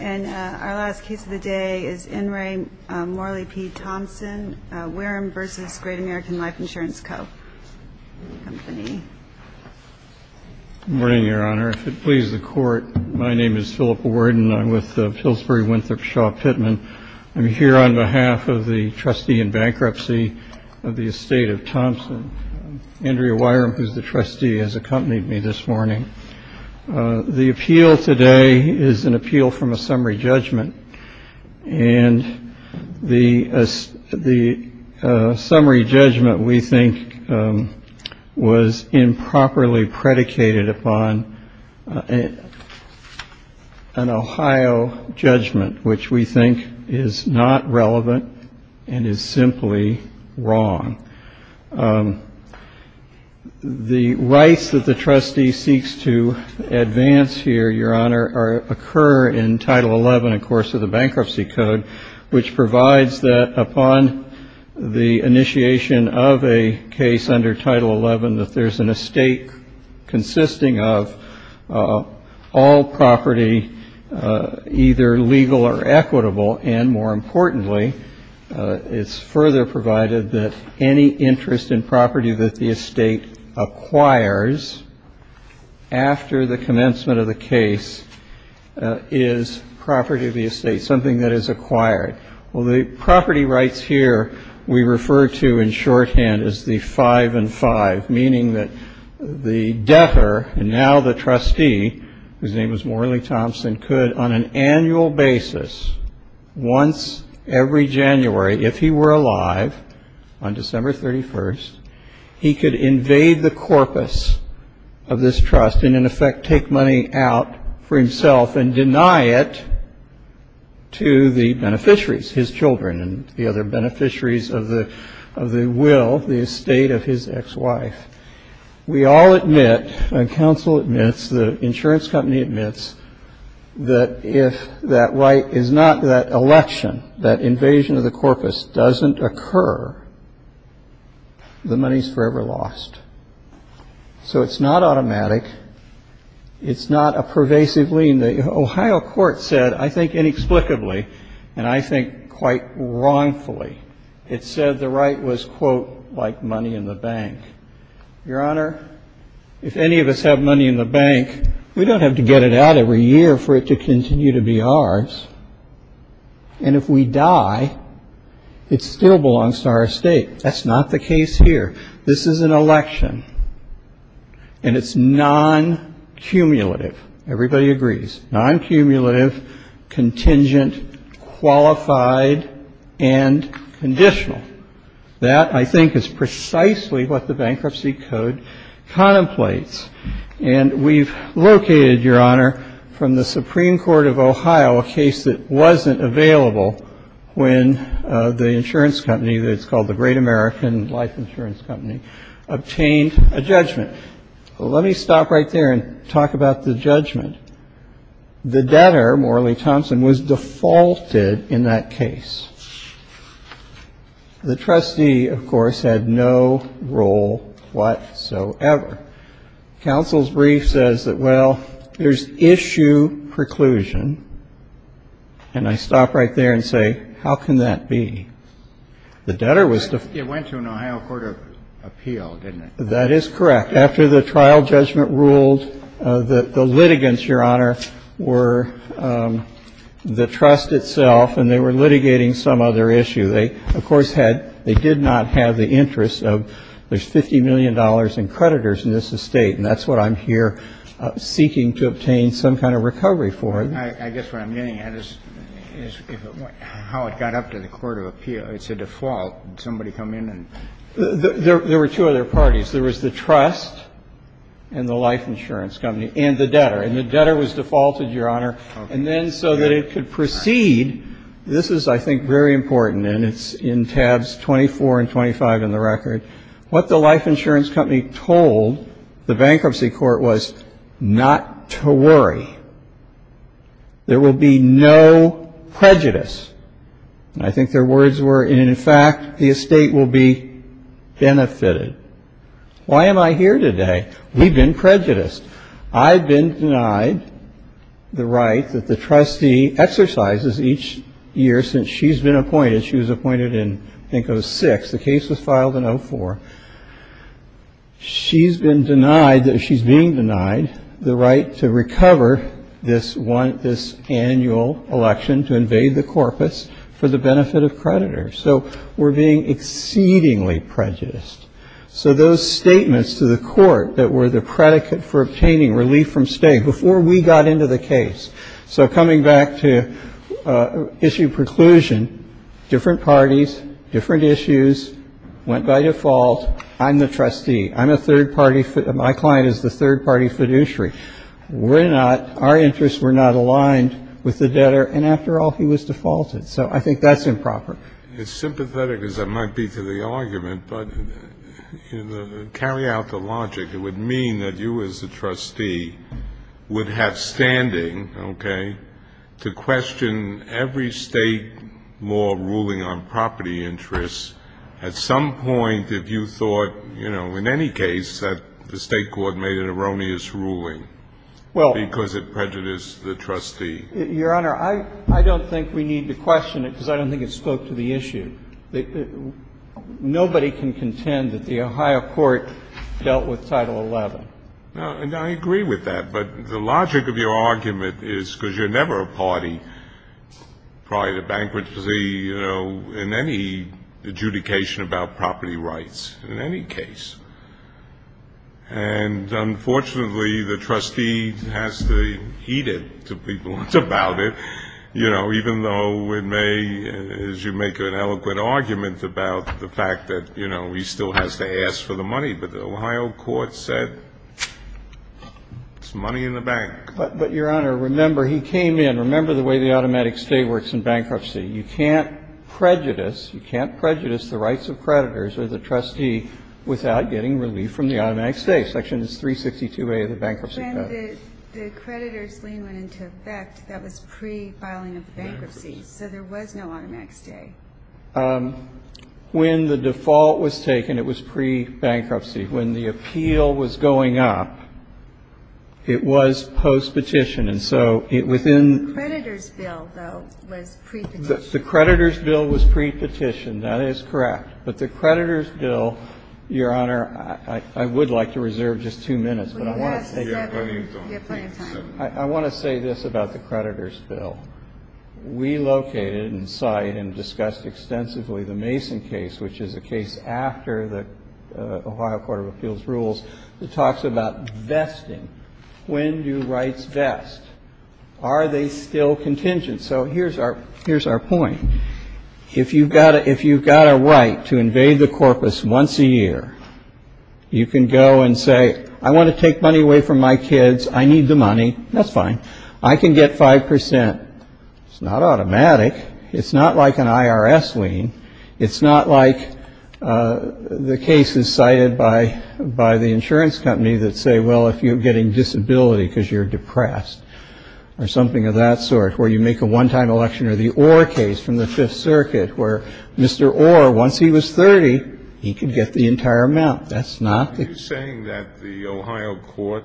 And our last case of the day is N. Ray Morley P. Thompson, Wirum v. Great American Life Insurance Co., Company. Good morning, Your Honor. If it pleases the Court, my name is Philip Worden. I'm with Pillsbury Winthrop Shaw Pittman. I'm here on behalf of the trustee in bankruptcy of the estate of Thompson, Andrea Wirum, who's the trustee, has accompanied me this morning. The appeal today is an appeal from a summary judgment. And the the summary judgment, we think, was improperly predicated upon an Ohio judgment, which we think is not relevant and is simply wrong. The rights that the trustee seeks to advance here, Your Honor, occur in Title XI, of course, of the Bankruptcy Code, which provides that upon the initiation of a case under Title XI that there's an estate consisting of all property either legal or equitable. And more importantly, it's further provided that any interest in property that the estate acquires after the commencement of the case is property of the estate, something that is acquired. Well, the property rights here we refer to in shorthand as the five and five, meaning that the debtor, and now the trustee, whose name was Morley Thompson, could on an annual basis, once every January, if he were alive on December 31st, he could invade the corpus of this trust and, in effect, take money out for himself and deny it to the beneficiaries, his children and the other beneficiaries of the will, the estate of his ex-wife. We all admit, and counsel admits, the insurance company admits, that if that right is not that election, that invasion of the corpus doesn't occur, the money's forever lost. So it's not automatic. It's not a pervasive lien. The Ohio court said, I think inexplicably, and I think quite wrongfully, it said the right was, quote, like money in the bank. Your Honor, if any of us have money in the bank, we don't have to get it out every year for it to continue to be ours. And if we die, it still belongs to our estate. That's not the case here. This is an election, and it's non-cumulative. Everybody agrees, non-cumulative, contingent, qualified, and conditional. That, I think, is precisely what the Bankruptcy Code contemplates. And we've located, Your Honor, from the Supreme Court of Ohio a case that wasn't available when the insurance company, it's called the Great American Life Insurance Company, obtained a judgment. Let me stop right there and talk about the judgment. The debtor, Morley Thompson, was defaulted in that case. The trustee, of course, had no role whatsoever. Counsel's brief says that, well, there's issue preclusion. And I stop right there and say, how can that be? The debtor was defaulted. It went to an Ohio court of appeal, didn't it? That is correct. After the trial judgment ruled, the litigants, Your Honor, were the trust itself, and they were litigating some other issue. They, of course, had they did not have the interest of there's $50 million in creditors in this estate. And that's what I'm here seeking to obtain some kind of recovery for. I guess what I'm getting at is how it got up to the court of appeal. It's a default. Somebody come in and ---- There were two other parties. There was the trust and the life insurance company and the debtor. And the debtor was defaulted, Your Honor. And then so that it could proceed, this is, I think, very important, and it's in tabs 24 and 25 in the record. What the life insurance company told the bankruptcy court was not to worry. There will be no prejudice. I think their words were, in fact, the estate will be benefited. Why am I here today? We've been prejudiced. I've been denied the right that the trustee exercises each year since she's been appointed. She was appointed in, I think, 06. The case was filed in 04. She's been denied that she's being denied the right to recover this one, this annual election to invade the corpus for the benefit of creditors. So we're being exceedingly prejudiced. So those statements to the court that were the predicate for obtaining relief from state before we got into the case. So coming back to issue preclusion, different parties, different issues, went by default. I'm the trustee. I'm a third party. My client is the third party fiduciary. We're not, our interests were not aligned with the debtor. And after all, he was defaulted. So I think that's improper. It's sympathetic as it might be to the argument, but carry out the logic. It would mean that you as the trustee would have standing, okay, to question every state law ruling on property interests. At some point, if you thought, you know, in any case, that the state court made an erroneous ruling because it prejudiced the trustee. Your Honor, I don't think we need to question it because I don't think it spoke to the issue. Nobody can contend that the Ohio court dealt with Title XI. And I agree with that. But the logic of your argument is because you're never a party prior to bankruptcy, you know, in any adjudication about property rights, in any case. And unfortunately, the trustee has to heed it to people about it, you know, even though it may, as you make an eloquent argument about the fact that, you know, he still has to ask for the money. But the Ohio court said it's money in the bank. But, Your Honor, remember, he came in. Remember the way the automatic stay works in bankruptcy. You can't prejudice, you can't prejudice the rights of creditors or the trustee without getting relief from the automatic stay. Section 362A of the Bankruptcy Act. The creditors' lien went into effect. That was pre-filing of the bankruptcy. So there was no automatic stay. When the default was taken, it was pre-bankruptcy. When the appeal was going up, it was post-petition. And so it was in the creditors' bill, though, was pre-petition. The creditors' bill was pre-petition. That is correct. But the creditors' bill, Your Honor, I would like to reserve just two minutes. We have plenty of time. I want to say this about the creditors' bill. We located and cite and discussed extensively the Mason case, which is a case after the Ohio Court of Appeals rules that talks about vesting. When do rights vest? Are they still contingent? So here's our point. If you've got a right to invade the corpus once a year, you can go and say, I want to take money away from my kids. I need the money. That's fine. I can get 5 percent. It's not automatic. It's not like an IRS lien. It's not like the cases cited by the insurance company that say, well, if you're getting disability because you're depressed or something of that sort, where you make a one-time election or the Orr case from the Fifth Circuit where Mr. Orr, once he was 30, he could get the entire amount. That's not the case. Are you saying that the Ohio court,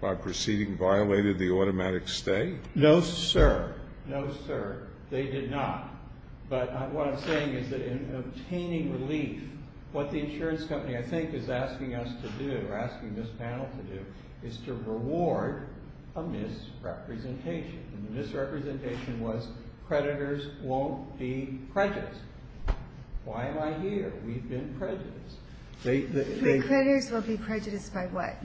by proceeding, violated the automatic stay? No, sir. No, sir. They did not. But what I'm saying is that in obtaining relief, what the insurance company, I think, is asking us to do or asking this panel to do is to reward a misrepresentation. And the misrepresentation was creditors won't be prejudiced. Why am I here? We've been prejudiced. The creditors will be prejudiced by what?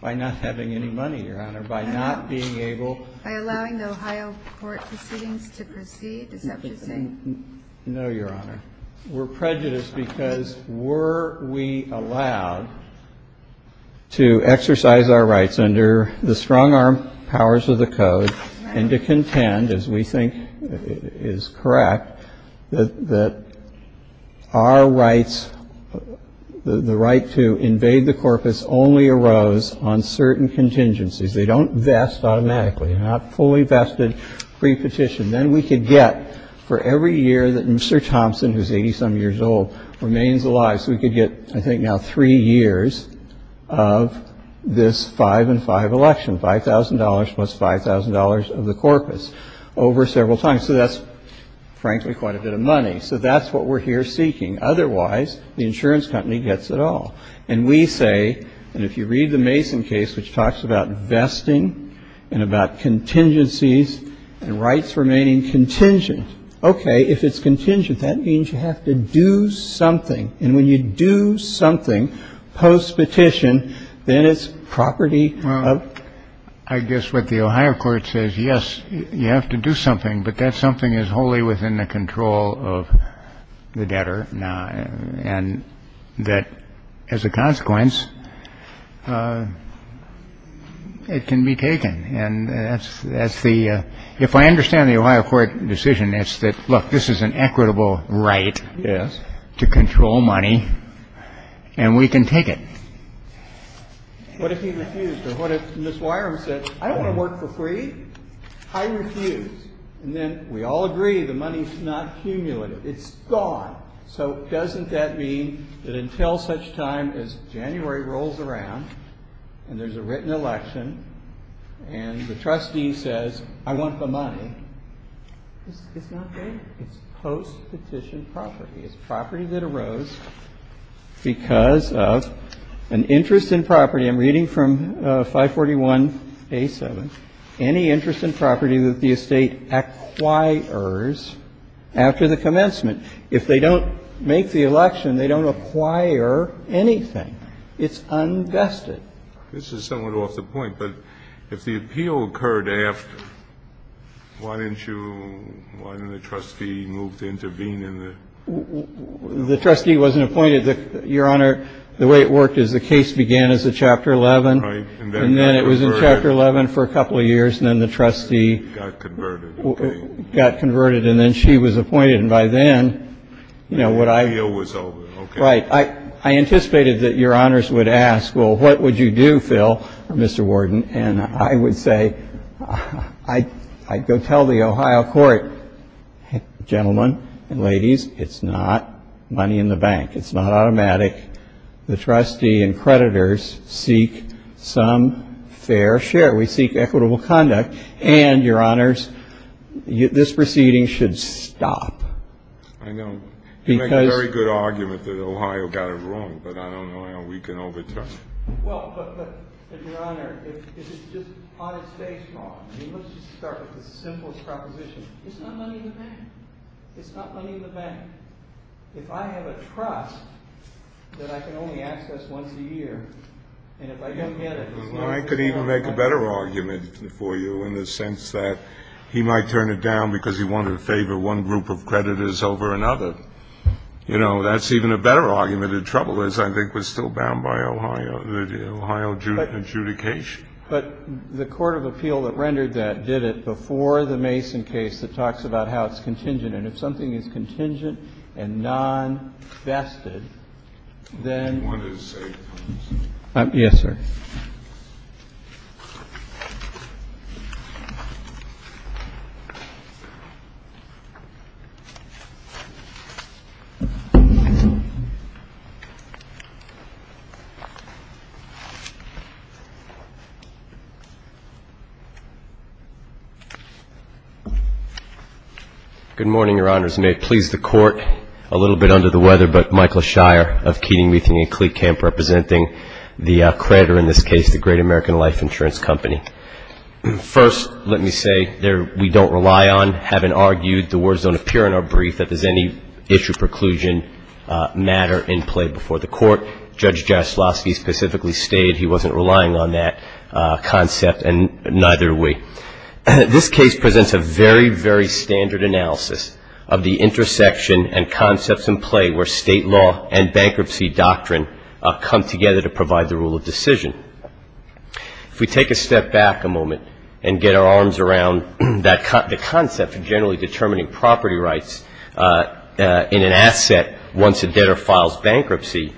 By not having any money, Your Honor. By not being able to. By allowing the Ohio court proceedings to proceed, is that what you're saying? No, Your Honor. We're prejudiced because were we allowed to exercise our rights under the strong arm powers of the code and to contend, as we think is correct, that our rights, the right to invade the corpus, only arose on certain contingencies. They don't vest automatically. They're not fully vested pre-petition. And then we could get for every year that Mr. Thompson, who's 80-some years old, remains alive. So we could get, I think now, three years of this five and five election, $5,000 plus $5,000 of the corpus over several times. So that's, frankly, quite a bit of money. So that's what we're here seeking. Otherwise, the insurance company gets it all. And we say, and if you read the Mason case, which talks about vesting and about contingencies and rights remaining contingent. Okay. If it's contingent, that means you have to do something. And when you do something post-petition, then it's property of. Well, I guess what the Ohio court says, yes, you have to do something, but that something is wholly within the control of the debtor. Now, and that as a consequence, it can be taken. And that's that's the if I understand the Ohio court decision, it's that, look, this is an equitable right. Yes. To control money. And we can take it. What if he refused or what if Ms. Wireham said, I don't want to work for free. I refuse. And then we all agree the money's not cumulative. It's gone. So doesn't that mean that until such time as January rolls around and there's a written election and the trustee says, I want the money, it's not there. It's post-petition property. It's property that arose because of an interest in property. I'm reading from 541A7. Any interest in property that the estate acquires after the commencement. If they don't make the election, they don't acquire anything. It's unvested. This is somewhat off the point, but if the appeal occurred after, why didn't you, why didn't the trustee move to intervene in the. The trustee wasn't appointed. Your Honor, the way it worked is the case began as a Chapter 11. Right. And then it was in Chapter 11 for a couple of years and then the trustee. Got converted. Got converted and then she was appointed. And by then, you know, what I. The appeal was over. Right. I anticipated that Your Honors would ask, well, what would you do, Phil, Mr. Warden? And I would say, I'd go tell the Ohio court, gentlemen and ladies, it's not money in the bank. It's not automatic. The trustee and creditors seek some fair share. We seek equitable conduct. And, Your Honors, this proceeding should stop. I know. Because. You make a very good argument that Ohio got it wrong, but I don't know how we can overturn it. Well, but, but, but, Your Honor, if it's just on its face law, I mean, let's just start with the simplest proposition. It's not money in the bank. It's not money in the bank. If I have a trust that I can only access once a year and if I don't get it. I could even make a better argument for you in the sense that he might turn it down because he wanted to favor one group of creditors over another. You know, that's even a better argument. The trouble is, I think, we're still bound by Ohio, the Ohio adjudication. But the court of appeal that rendered that did it before the Mason case that talks about how it's contingent. And if something is contingent and non-vested, then. Yes, sir. Good morning, Your Honors. May it please the Court, a little bit under the weather, but Michael Shire of Keating, Meathing & Kleek Camp representing the creditor in this case, the Great American Life Insurance Company. First, let me say, we don't rely on, having argued, the words don't appear in our brief, that there's any issue, preclusion, matter in play before the Court. Judge Jastrowski specifically stated he wasn't relying on that concept and neither are we. This case presents a very, very standard analysis of the intersection and concepts in play where state law and bankruptcy doctrine come together to provide the rule of decision. If we take a step back a moment and get our arms around the concept of generally determining property rights in an asset once a debtor files bankruptcy,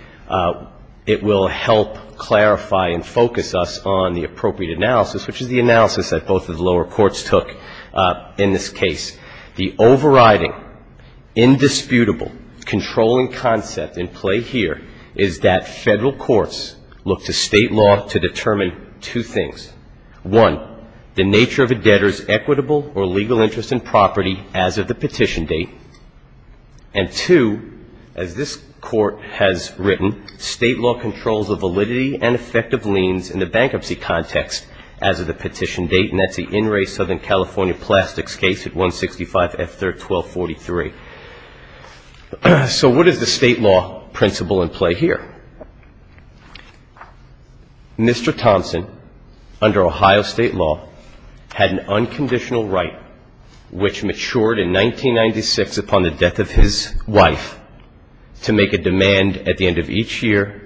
it will help clarify and focus us on the appropriate analysis, which is the analysis that both of the lower courts took in this case. The overriding, indisputable, controlling concept in play here is that federal courts look to state law to determine two things. One, the nature of a debtor's equitable or legal interest in property as of the petition date. And two, as this Court has written, state law controls the validity and effect of liens in the bankruptcy context as of the petition date, and that's the In Re Southern California Plastics case at 165 F-1243. So what is the state law principle in play here? Mr. Thompson, under Ohio state law, had an unconditional right, which matured in 1996 upon the death of his wife, to make a demand at the end of each year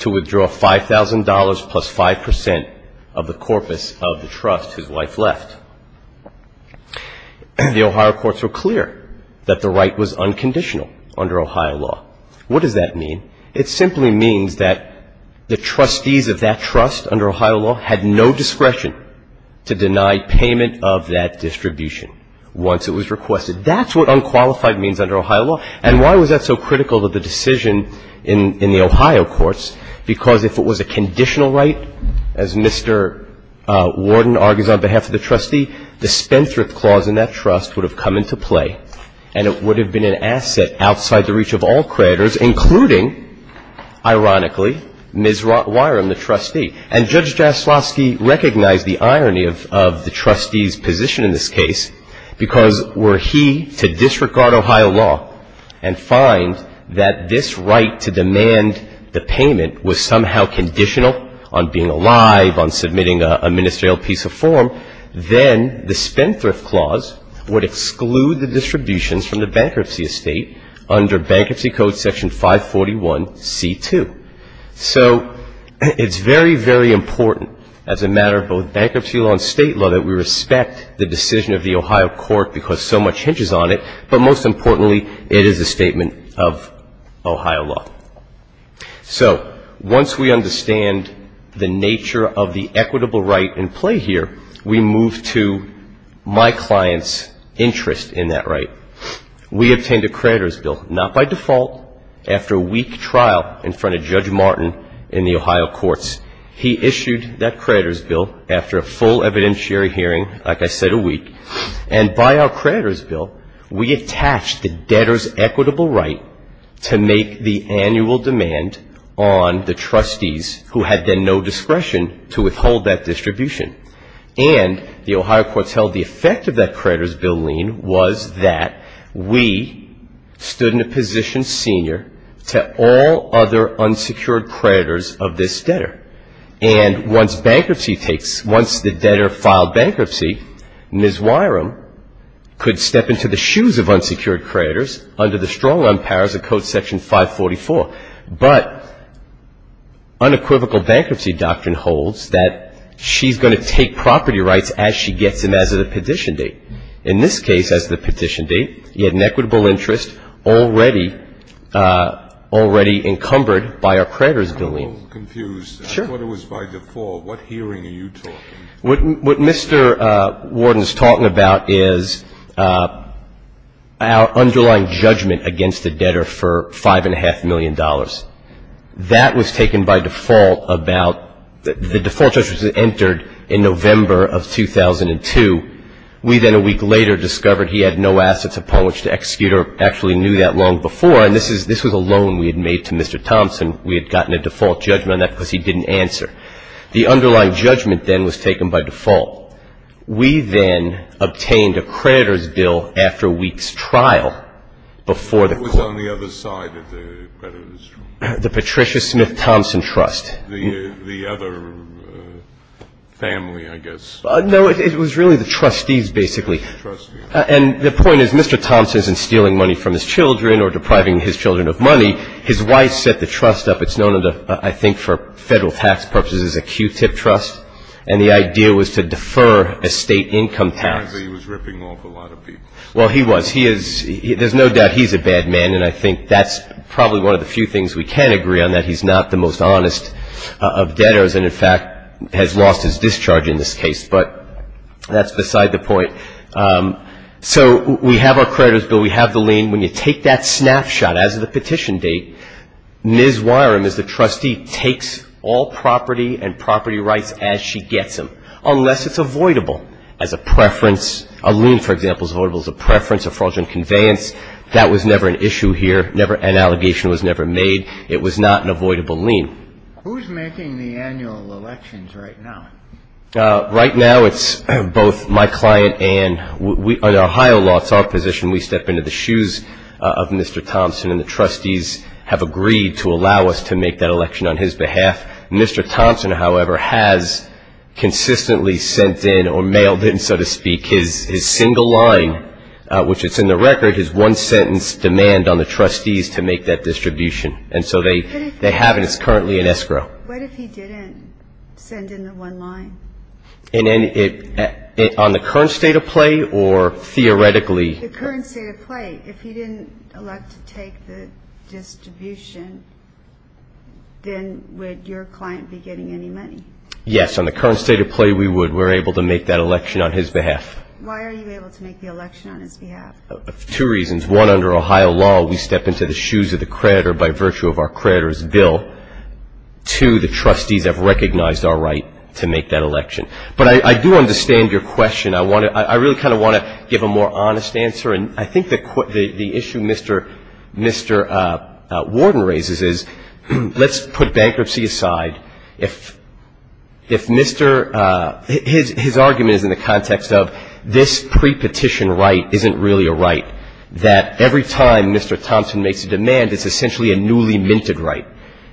to withdraw $5,000 plus 5 percent of the corpus of the trust his wife left. The Ohio courts were clear that the right was unconditional under Ohio law. What does that mean? It simply means that the trustees of that trust under Ohio law had no discretion to deny payment of that distribution once it was requested. That's what unqualified means under Ohio law. And why was that so critical to the decision in the Ohio courts? Because if it was a conditional right, as Mr. Warden argues on behalf of the trustee, the Spendthrift Clause in that trust would have come into play, and it would have been an asset outside the reach of all creditors, including, ironically, Ms. Wyrum, the trustee. And Judge Jaslowski recognized the irony of the trustee's position in this case because were he to disregard Ohio law and find that this right to demand the payment was somehow conditional on being alive, on submitting a ministerial piece of form, then the Spendthrift Clause would exclude the distributions from the bankruptcy estate under Bankruptcy Code Section 541C2. So it's very, very important as a matter of both bankruptcy law and state law that we respect the decision of the Ohio court because so much hinges on it, but most importantly, it is a statement of Ohio law. So once we understand the nature of the equitable right in play here, we move to my client's interest in that right. We obtained a creditor's bill, not by default, after a week trial in front of Judge Martin in the Ohio courts. He issued that creditor's bill after a full evidentiary hearing, like I said, a week. And by our creditor's bill, we attached the debtor's equitable right to make the annual demand on the trustees who had then no discretion to withhold that distribution. And the Ohio courts held the effect of that creditor's bill lien was that we stood in a position senior to all other unsecured creditors of this debtor. And once bankruptcy takes — once the debtor filed bankruptcy, Ms. Wyrum could step into the shoes of unsecured creditors under the strong-run powers of Code Section 544. But unequivocal bankruptcy doctrine holds that she's going to take property rights as she gets them, as of the petition date. In this case, as the petition date, you had an equitable interest already — already encumbered by our creditor's bill lien. I'm a little confused. Sure. I thought it was by default. What hearing are you talking? What Mr. Warden is talking about is our underlying judgment against the debtor for $5.5 million. That was taken by default about — the default judgment was entered in November of 2002. We then a week later discovered he had no assets upon which to execute or actually knew that long before. And this is — this was a loan we had made to Mr. Thompson. We had gotten a default judgment on that because he didn't answer. The underlying judgment then was taken by default. We then obtained a creditor's bill after a week's trial before the court — It was on the other side of the creditor's trial. The Patricia Smith Thompson Trust. The other family, I guess. No, it was really the trustees, basically. And the point is, Mr. Thompson isn't stealing money from his children or depriving his children of money. His wife set the trust up. It's known, I think, for federal tax purposes as a Q-tip trust. And the idea was to defer a state income tax. Apparently he was ripping off a lot of people. Well, he was. He is — there's no doubt he's a bad man, and I think that's probably one of the few things we can agree on, that he's not the most honest of debtors and, in fact, has lost his discharge in this case. But that's beside the point. So we have our creditor's bill. We have the lien. When you take that snapshot as of the petition date, Ms. Wyrum is the trustee, takes all property and property rights as she gets them, unless it's avoidable as a preference. A lien, for example, is avoidable as a preference, a fraudulent conveyance. That was never an issue here. Never — an allegation was never made. It was not an avoidable lien. Who's making the annual elections right now? Right now it's both my client and — the Ohio law is our position. We step into the shoes of Mr. Thompson, and the trustees have agreed to allow us to make that election on his behalf. Mr. Thompson, however, has consistently sent in or mailed in, so to speak, his single line, which is in the record, his one-sentence demand on the trustees to make that distribution. And so they have it. It's currently in escrow. What if he didn't send in the one line? On the current state of play or theoretically? The current state of play. If he didn't elect to take the distribution, then would your client be getting any money? Yes. On the current state of play, we would. We're able to make that election on his behalf. Why are you able to make the election on his behalf? Two reasons. One, under Ohio law, we step into the shoes of the creditor by virtue of our creditor's bill. Two, the trustees have recognized our right to make that election. But I do understand your question. I really kind of want to give a more honest answer. And I think the issue Mr. Warden raises is let's put bankruptcy aside. His argument is in the context of this pre-petition right isn't really a right, that every time Mr. Thompson makes a demand, it's essentially a newly minted right.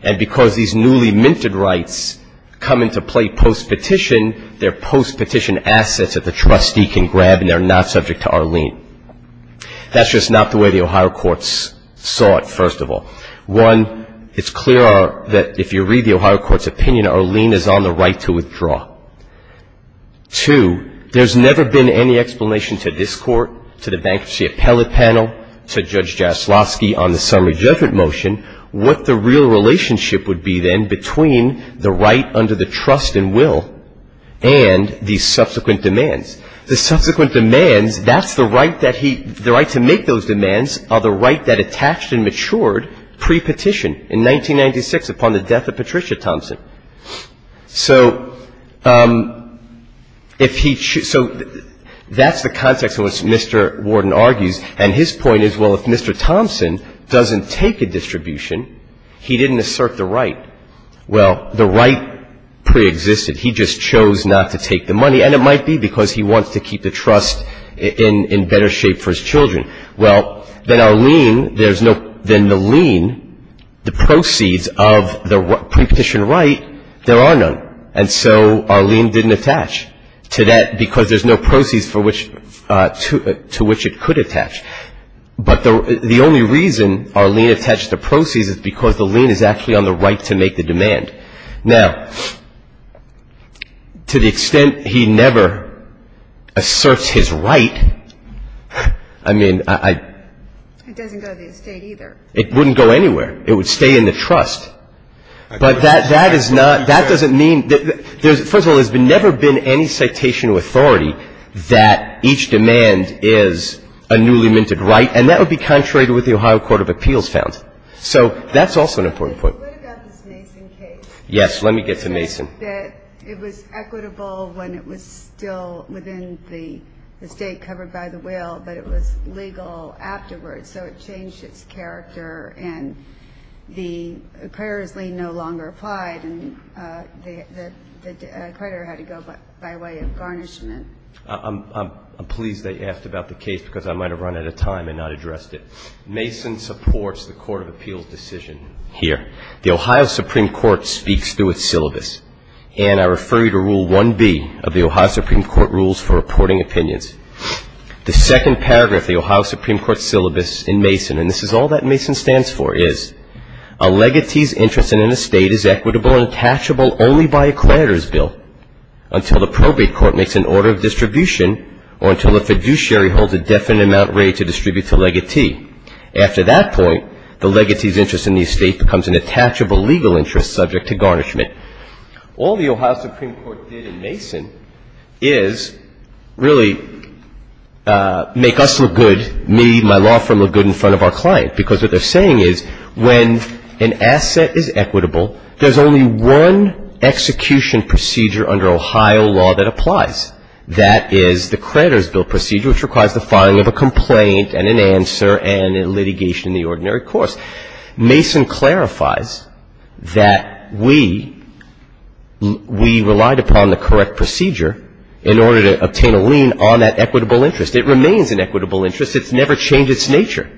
And because these newly minted rights come into play post-petition, they're post-petition assets that the trustee can grab and they're not subject to Arlene. That's just not the way the Ohio courts saw it, first of all. One, it's clear that if you read the Ohio court's opinion, Arlene is on the right to withdraw. Two, there's never been any explanation to this court, to the bankruptcy appellate panel, to Judge Jaslowski on the summary judgment motion, what the real relationship would be then between the right under the trust and will and the subsequent demands. The subsequent demands, that's the right that he, the right to make those demands are the right that attached and matured pre-petition in 1996 upon the death of Patricia Thompson. So if he, so that's the context in which Mr. Warden argues. And his point is, well, if Mr. Thompson doesn't take a distribution, he didn't assert the right. Well, the right preexisted. He just chose not to take the money. And it might be because he wants to keep the trust in better shape for his children. Well, then Arlene, there's no, then the lien, the proceeds of the pre-petition right, there are none. And so Arlene didn't attach to that because there's no proceeds for which, to which it could attach. But the only reason Arlene attached the proceeds is because the lien is actually on the right to make the demand. Now, to the extent he never asserts his right, I mean, I — It doesn't go to the estate either. It wouldn't go anywhere. It would stay in the trust. But that is not, that doesn't mean, there's, first of all, there's never been any citation of authority that each demand is a newly minted right. And that would be contrary to what the Ohio Court of Appeals found. So that's also an important point. So what about this Mason case? Yes, let me get to Mason. It said that it was equitable when it was still within the estate covered by the will, but it was legal afterwards, so it changed its character. And the acquirer's lien no longer applied, and the acquirer had to go by way of garnishment. I'm pleased that you asked about the case because I might have run out of time and not addressed it. Mason supports the Court of Appeals' decision here. The Ohio Supreme Court speaks through its syllabus, and I refer you to Rule 1B of the Ohio Supreme Court Rules for Reporting Opinions. The second paragraph of the Ohio Supreme Court's syllabus in Mason, and this is all that Mason stands for, is, A legatee's interest in an estate is equitable and attachable only by a creditor's bill until the appropriate court makes an order of distribution or until a fiduciary holds a definite amount ready to distribute to a legatee. After that point, the legatee's interest in the estate becomes an attachable legal interest subject to garnishment. All the Ohio Supreme Court did in Mason is really make us look good, me, my law firm look good in front of our client, because what they're saying is when an asset is equitable, there's only one execution procedure under Ohio law that applies. That is the creditor's bill procedure, which requires the filing of a complaint and an answer and a litigation in the ordinary course. Mason clarifies that we relied upon the correct procedure in order to obtain a lien on that equitable interest. It remains an equitable interest. It's never changed its nature.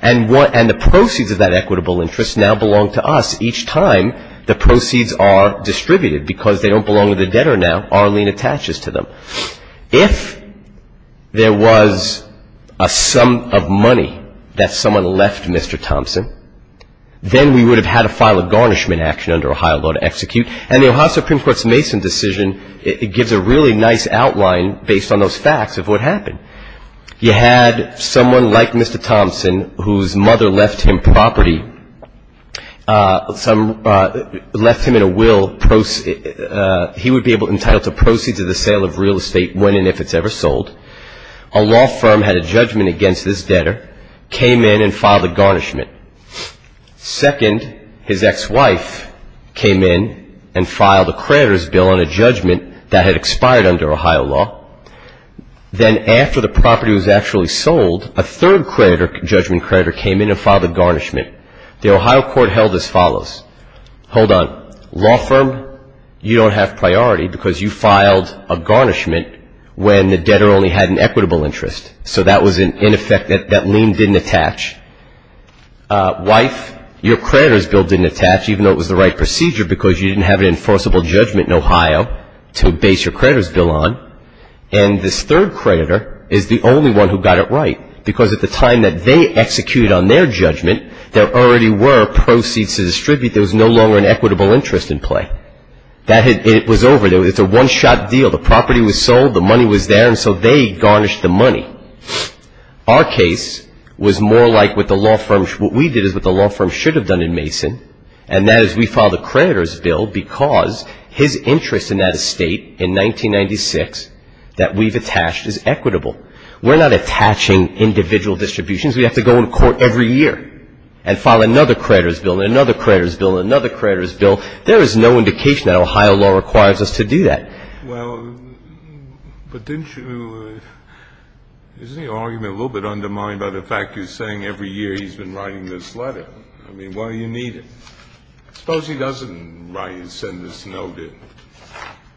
And the proceeds of that equitable interest now belong to us. Each time, the proceeds are distributed because they don't belong to the debtor now. Our lien attaches to them. If there was a sum of money that someone left Mr. Thompson, then we would have had a file of garnishment action under Ohio law to execute. And the Ohio Supreme Court's Mason decision, it gives a really nice outline based on those facts of what happened. You had someone like Mr. Thompson, whose mother left him property, left him in a will he would be entitled to proceeds of the sale of real estate when and if it's ever sold. A law firm had a judgment against this debtor, came in and filed a garnishment. Second, his ex-wife came in and filed a creditor's bill on a judgment that had expired under Ohio law. Then after the property was actually sold, a third judgment creditor came in and filed a garnishment. The Ohio court held as follows. Hold on. Law firm, you don't have priority because you filed a garnishment when the debtor only had an equitable interest. So that was in effect, that lien didn't attach. Wife, your creditor's bill didn't attach, even though it was the right procedure because you didn't have an enforceable judgment in Ohio to base your creditor's bill on. And this third creditor is the only one who got it right because at the time that they executed on their judgment, there already were proceeds to distribute. There was no longer an equitable interest in play. It was over. It's a one-shot deal. The property was sold. The money was there. And so they garnished the money. Our case was more like what the law firm, what we did is what the law firm should have done in Mason, and that is we filed a creditor's bill because his interest in that estate in 1996 that we've attached is equitable. We're not attaching individual distributions. We have to go in court every year and file another creditor's bill and another creditor's bill and another creditor's bill. There is no indication that Ohio law requires us to do that. Well, but didn't you – isn't the argument a little bit undermined by the fact you're saying every year he's been writing this letter? I mean, why do you need it? Suppose he doesn't write and send this note in.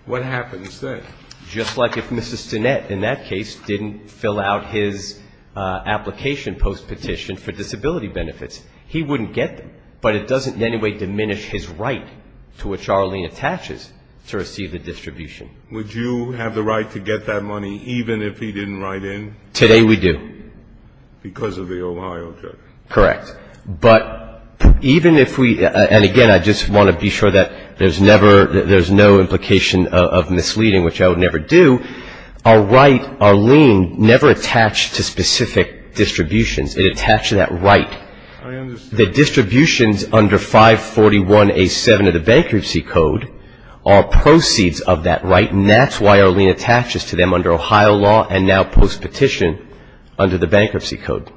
What happens then? Just like if Mrs. Stinnett in that case didn't fill out his application post-petition for disability benefits, he wouldn't get them. But it doesn't in any way diminish his right to what Charlene attaches to receive the distribution. Would you have the right to get that money even if he didn't write in? Today we do. Because of the Ohio judgment. Correct. But even if we – and, again, I just want to be sure that there's never – there's no implication of misleading, which I would never do. Our right, our lien, never attached to specific distributions. It attached to that right. I understand. The distributions under 541A7 of the Bankruptcy Code are proceeds of that right, and that's why our lien attaches to them under Ohio law and now post-petition under the Bankruptcy Code.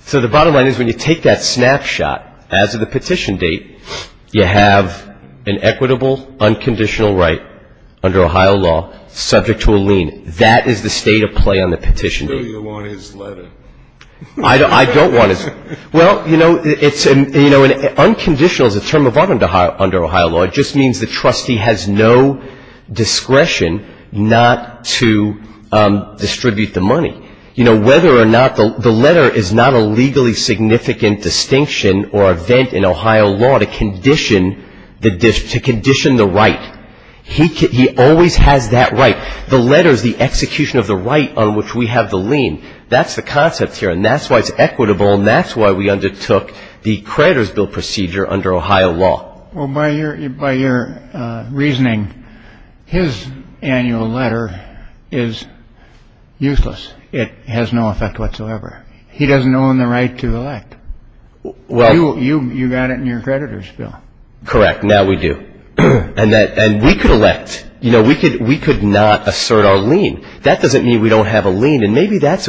So the bottom line is when you take that snapshot as of the petition date, you have an equitable, unconditional right under Ohio law subject to a lien. That is the state of play on the petition date. So you want his letter? I don't want his – well, you know, it's – you know, unconditional is a term of art under Ohio law. It just means the trustee has no discretion not to distribute the money. You know, whether or not – the letter is not a legally significant distinction or event in Ohio law to condition the right. He always has that right. The letter is the execution of the right on which we have the lien. That's the concept here, and that's why it's equitable, and that's why we undertook the creditor's bill procedure under Ohio law. Well, by your reasoning, his annual letter is useless. It has no effect whatsoever. He doesn't own the right to elect. You got it in your creditor's bill. Correct. Now we do. And we could elect. You know, we could not assert our lien. That doesn't mean we don't have a lien, and maybe that's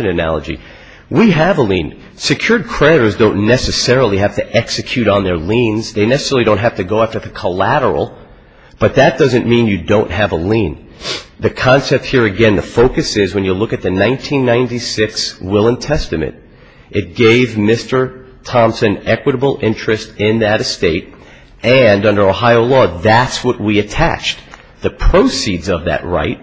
an analogy. We have a lien. Secured creditors don't necessarily have to execute on their liens. They necessarily don't have to go after the collateral, but that doesn't mean you don't have a lien. The concept here, again, the focus is when you look at the 1996 will and testament, it gave Mr. Thompson equitable interest in that estate, and under Ohio law, that's what we attached. The proceeds of that right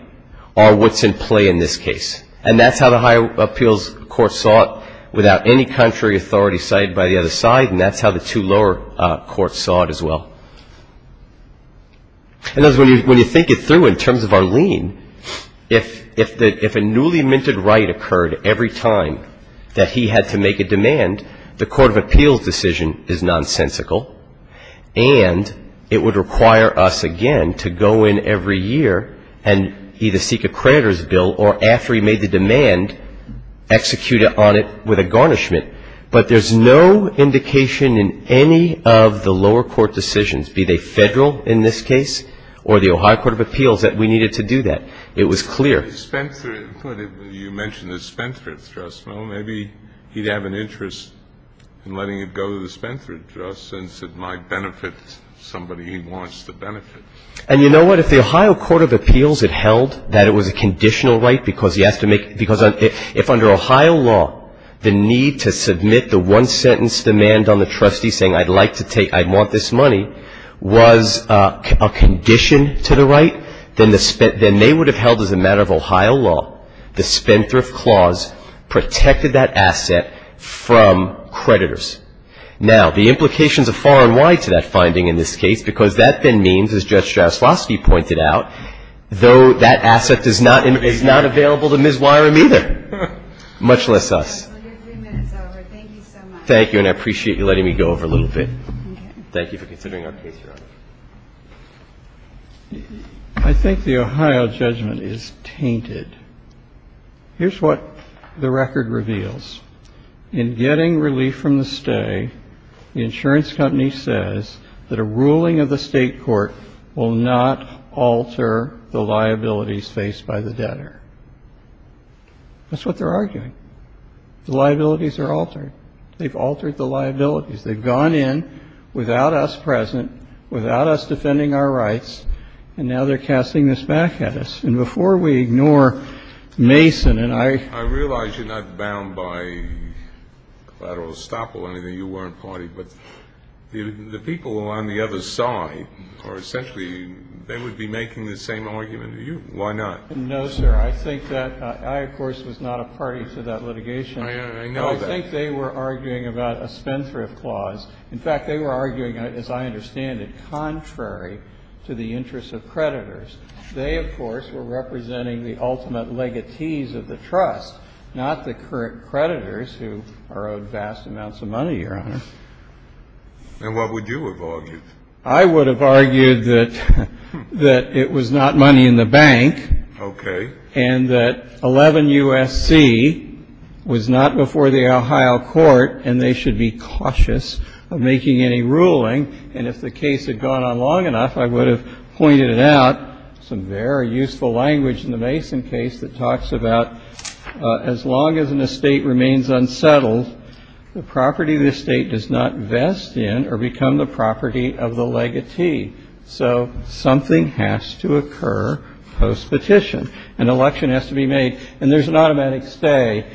are what's in play in this case, and that's how the high appeals court saw it without any contrary authority cited by the other side, and that's how the two lower courts saw it as well. When you think it through in terms of our lien, if a newly minted right occurred every time that he had to make a demand, the court of appeals decision is nonsensical, and it would require us again to go in every year and either seek a creditor's bill or after he made the demand, execute on it with a garnishment. But there's no indication in any of the lower court decisions, be they federal in this case or the Ohio court of appeals, that we needed to do that. It was clear. You mentioned the Spenforth trust. Well, maybe he'd have an interest in letting it go to the Spenforth trust since it might benefit somebody he wants to benefit. And you know what? If the Ohio court of appeals had held that it was a conditional right, because if under Ohio law the need to submit the one-sentence demand on the trustee saying, I'd like to take, I want this money, was a condition to the right, then they would have held as a matter of Ohio law, the Spenforth clause protected that asset from creditors. Now, the implications are far and wide to that finding in this case because that then means, as Judge Jaslowski pointed out, though that asset is not available to Ms. Wyram either, much less us. Your three minutes are over. Thank you so much. Thank you, and I appreciate you letting me go over a little bit. Thank you for considering our case, Your Honor. I think the Ohio judgment is tainted. Here's what the record reveals. In getting relief from the stay, the insurance company says that a ruling of the State court will not alter the liabilities faced by the debtor. That's what they're arguing. The liabilities are altered. They've altered the liabilities. They've gone in without us present, without us defending our rights, and now they're casting this back at us. And before we ignore Mason and I ---- I don't want to estoppel anything. You weren't party. But the people on the other side are essentially ---- they would be making the same argument. Why not? No, sir. I think that ---- I, of course, was not a party to that litigation. I know that. I think they were arguing about a spendthrift clause. In fact, they were arguing, as I understand it, contrary to the interests of creditors. They, of course, were representing the ultimate legatees of the trust, not the current creditors who borrowed vast amounts of money, Your Honor. And what would you have argued? I would have argued that it was not money in the bank. Okay. And that 11 U.S.C. was not before the Ohio court, and they should be cautious of making any ruling. And if the case had gone on long enough, I would have pointed it out. There's some very useful language in the Mason case that talks about as long as an estate remains unsettled, the property of the estate does not vest in or become the property of the legatee. So something has to occur postpetition. An election has to be made. And there's an automatic stay.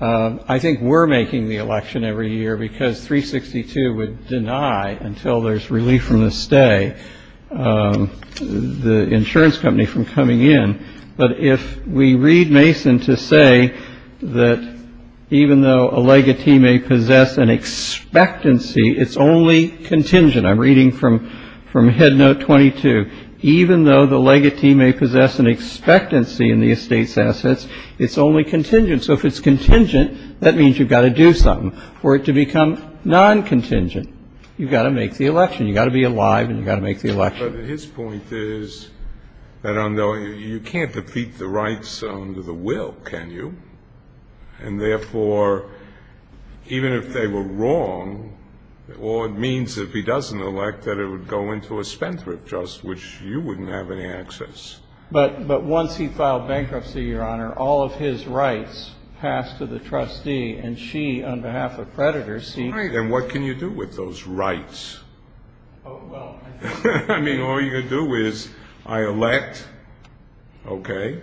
I think we're making the election every year because 362 would deny until there's relief from the stay. The insurance company from coming in. But if we read Mason to say that even though a legatee may possess an expectancy, it's only contingent. I'm reading from from Headnote 22. Even though the legatee may possess an expectancy in the estate's assets, it's only contingent. So if it's contingent, that means you've got to do something for it to become non-contingent. You've got to make the election. You've got to be alive. And you've got to make the election. But his point is that you can't defeat the rights under the will, can you? And therefore, even if they were wrong, all it means if he doesn't elect that it would go into a spendthrift trust, which you wouldn't have any access. But once he filed bankruptcy, Your Honor, all of his rights passed to the trustee. And she, on behalf of Predator, seemed to be. I mean, all you do is I elect, okay,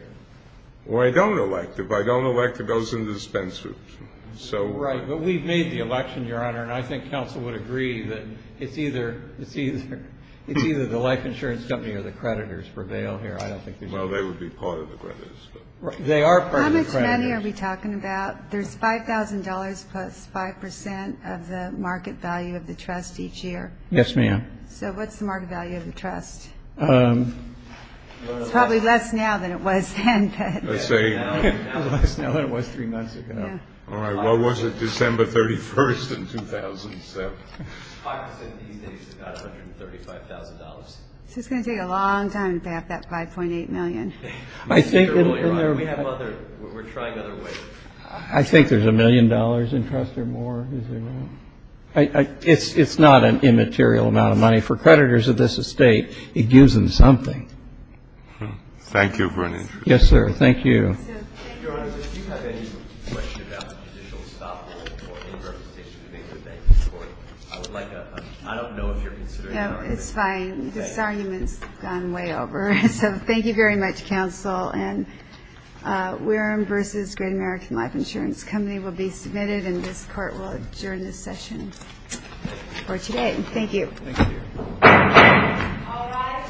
or I don't elect. If I don't elect, it goes into the spendthrift. Right. But we've made the election, Your Honor. And I think counsel would agree that it's either the life insurance company or the creditors prevail here. Well, they would be part of the creditors. They are part of the creditors. How much money are we talking about? There's $5,000 plus 5% of the market value of the trust each year. Yes, ma'am. So what's the market value of the trust? It's probably less now than it was then. Less now than it was three months ago. All right. What was it, December 31st in 2007? 5% these days is about $135,000. So it's going to take a long time to pay off that $5.8 million. We have other we're trying other ways. I think there's a million dollars in trust or more. Is there not? It's not an immaterial amount of money. For creditors of this estate, it gives them something. Thank you for your interest. Yes, sir. Thank you. Your Honor, if you have any questions about judicial stockholding or any representation to make the case for it, I would like a I don't know if you're considering an argument. It's fine. This argument has gone way over. So thank you very much, Counsel. And Wareham v. Great American Life Insurance Company will be submitted, and this Court will adjourn this session for today. Thank you. Thank you. All rise.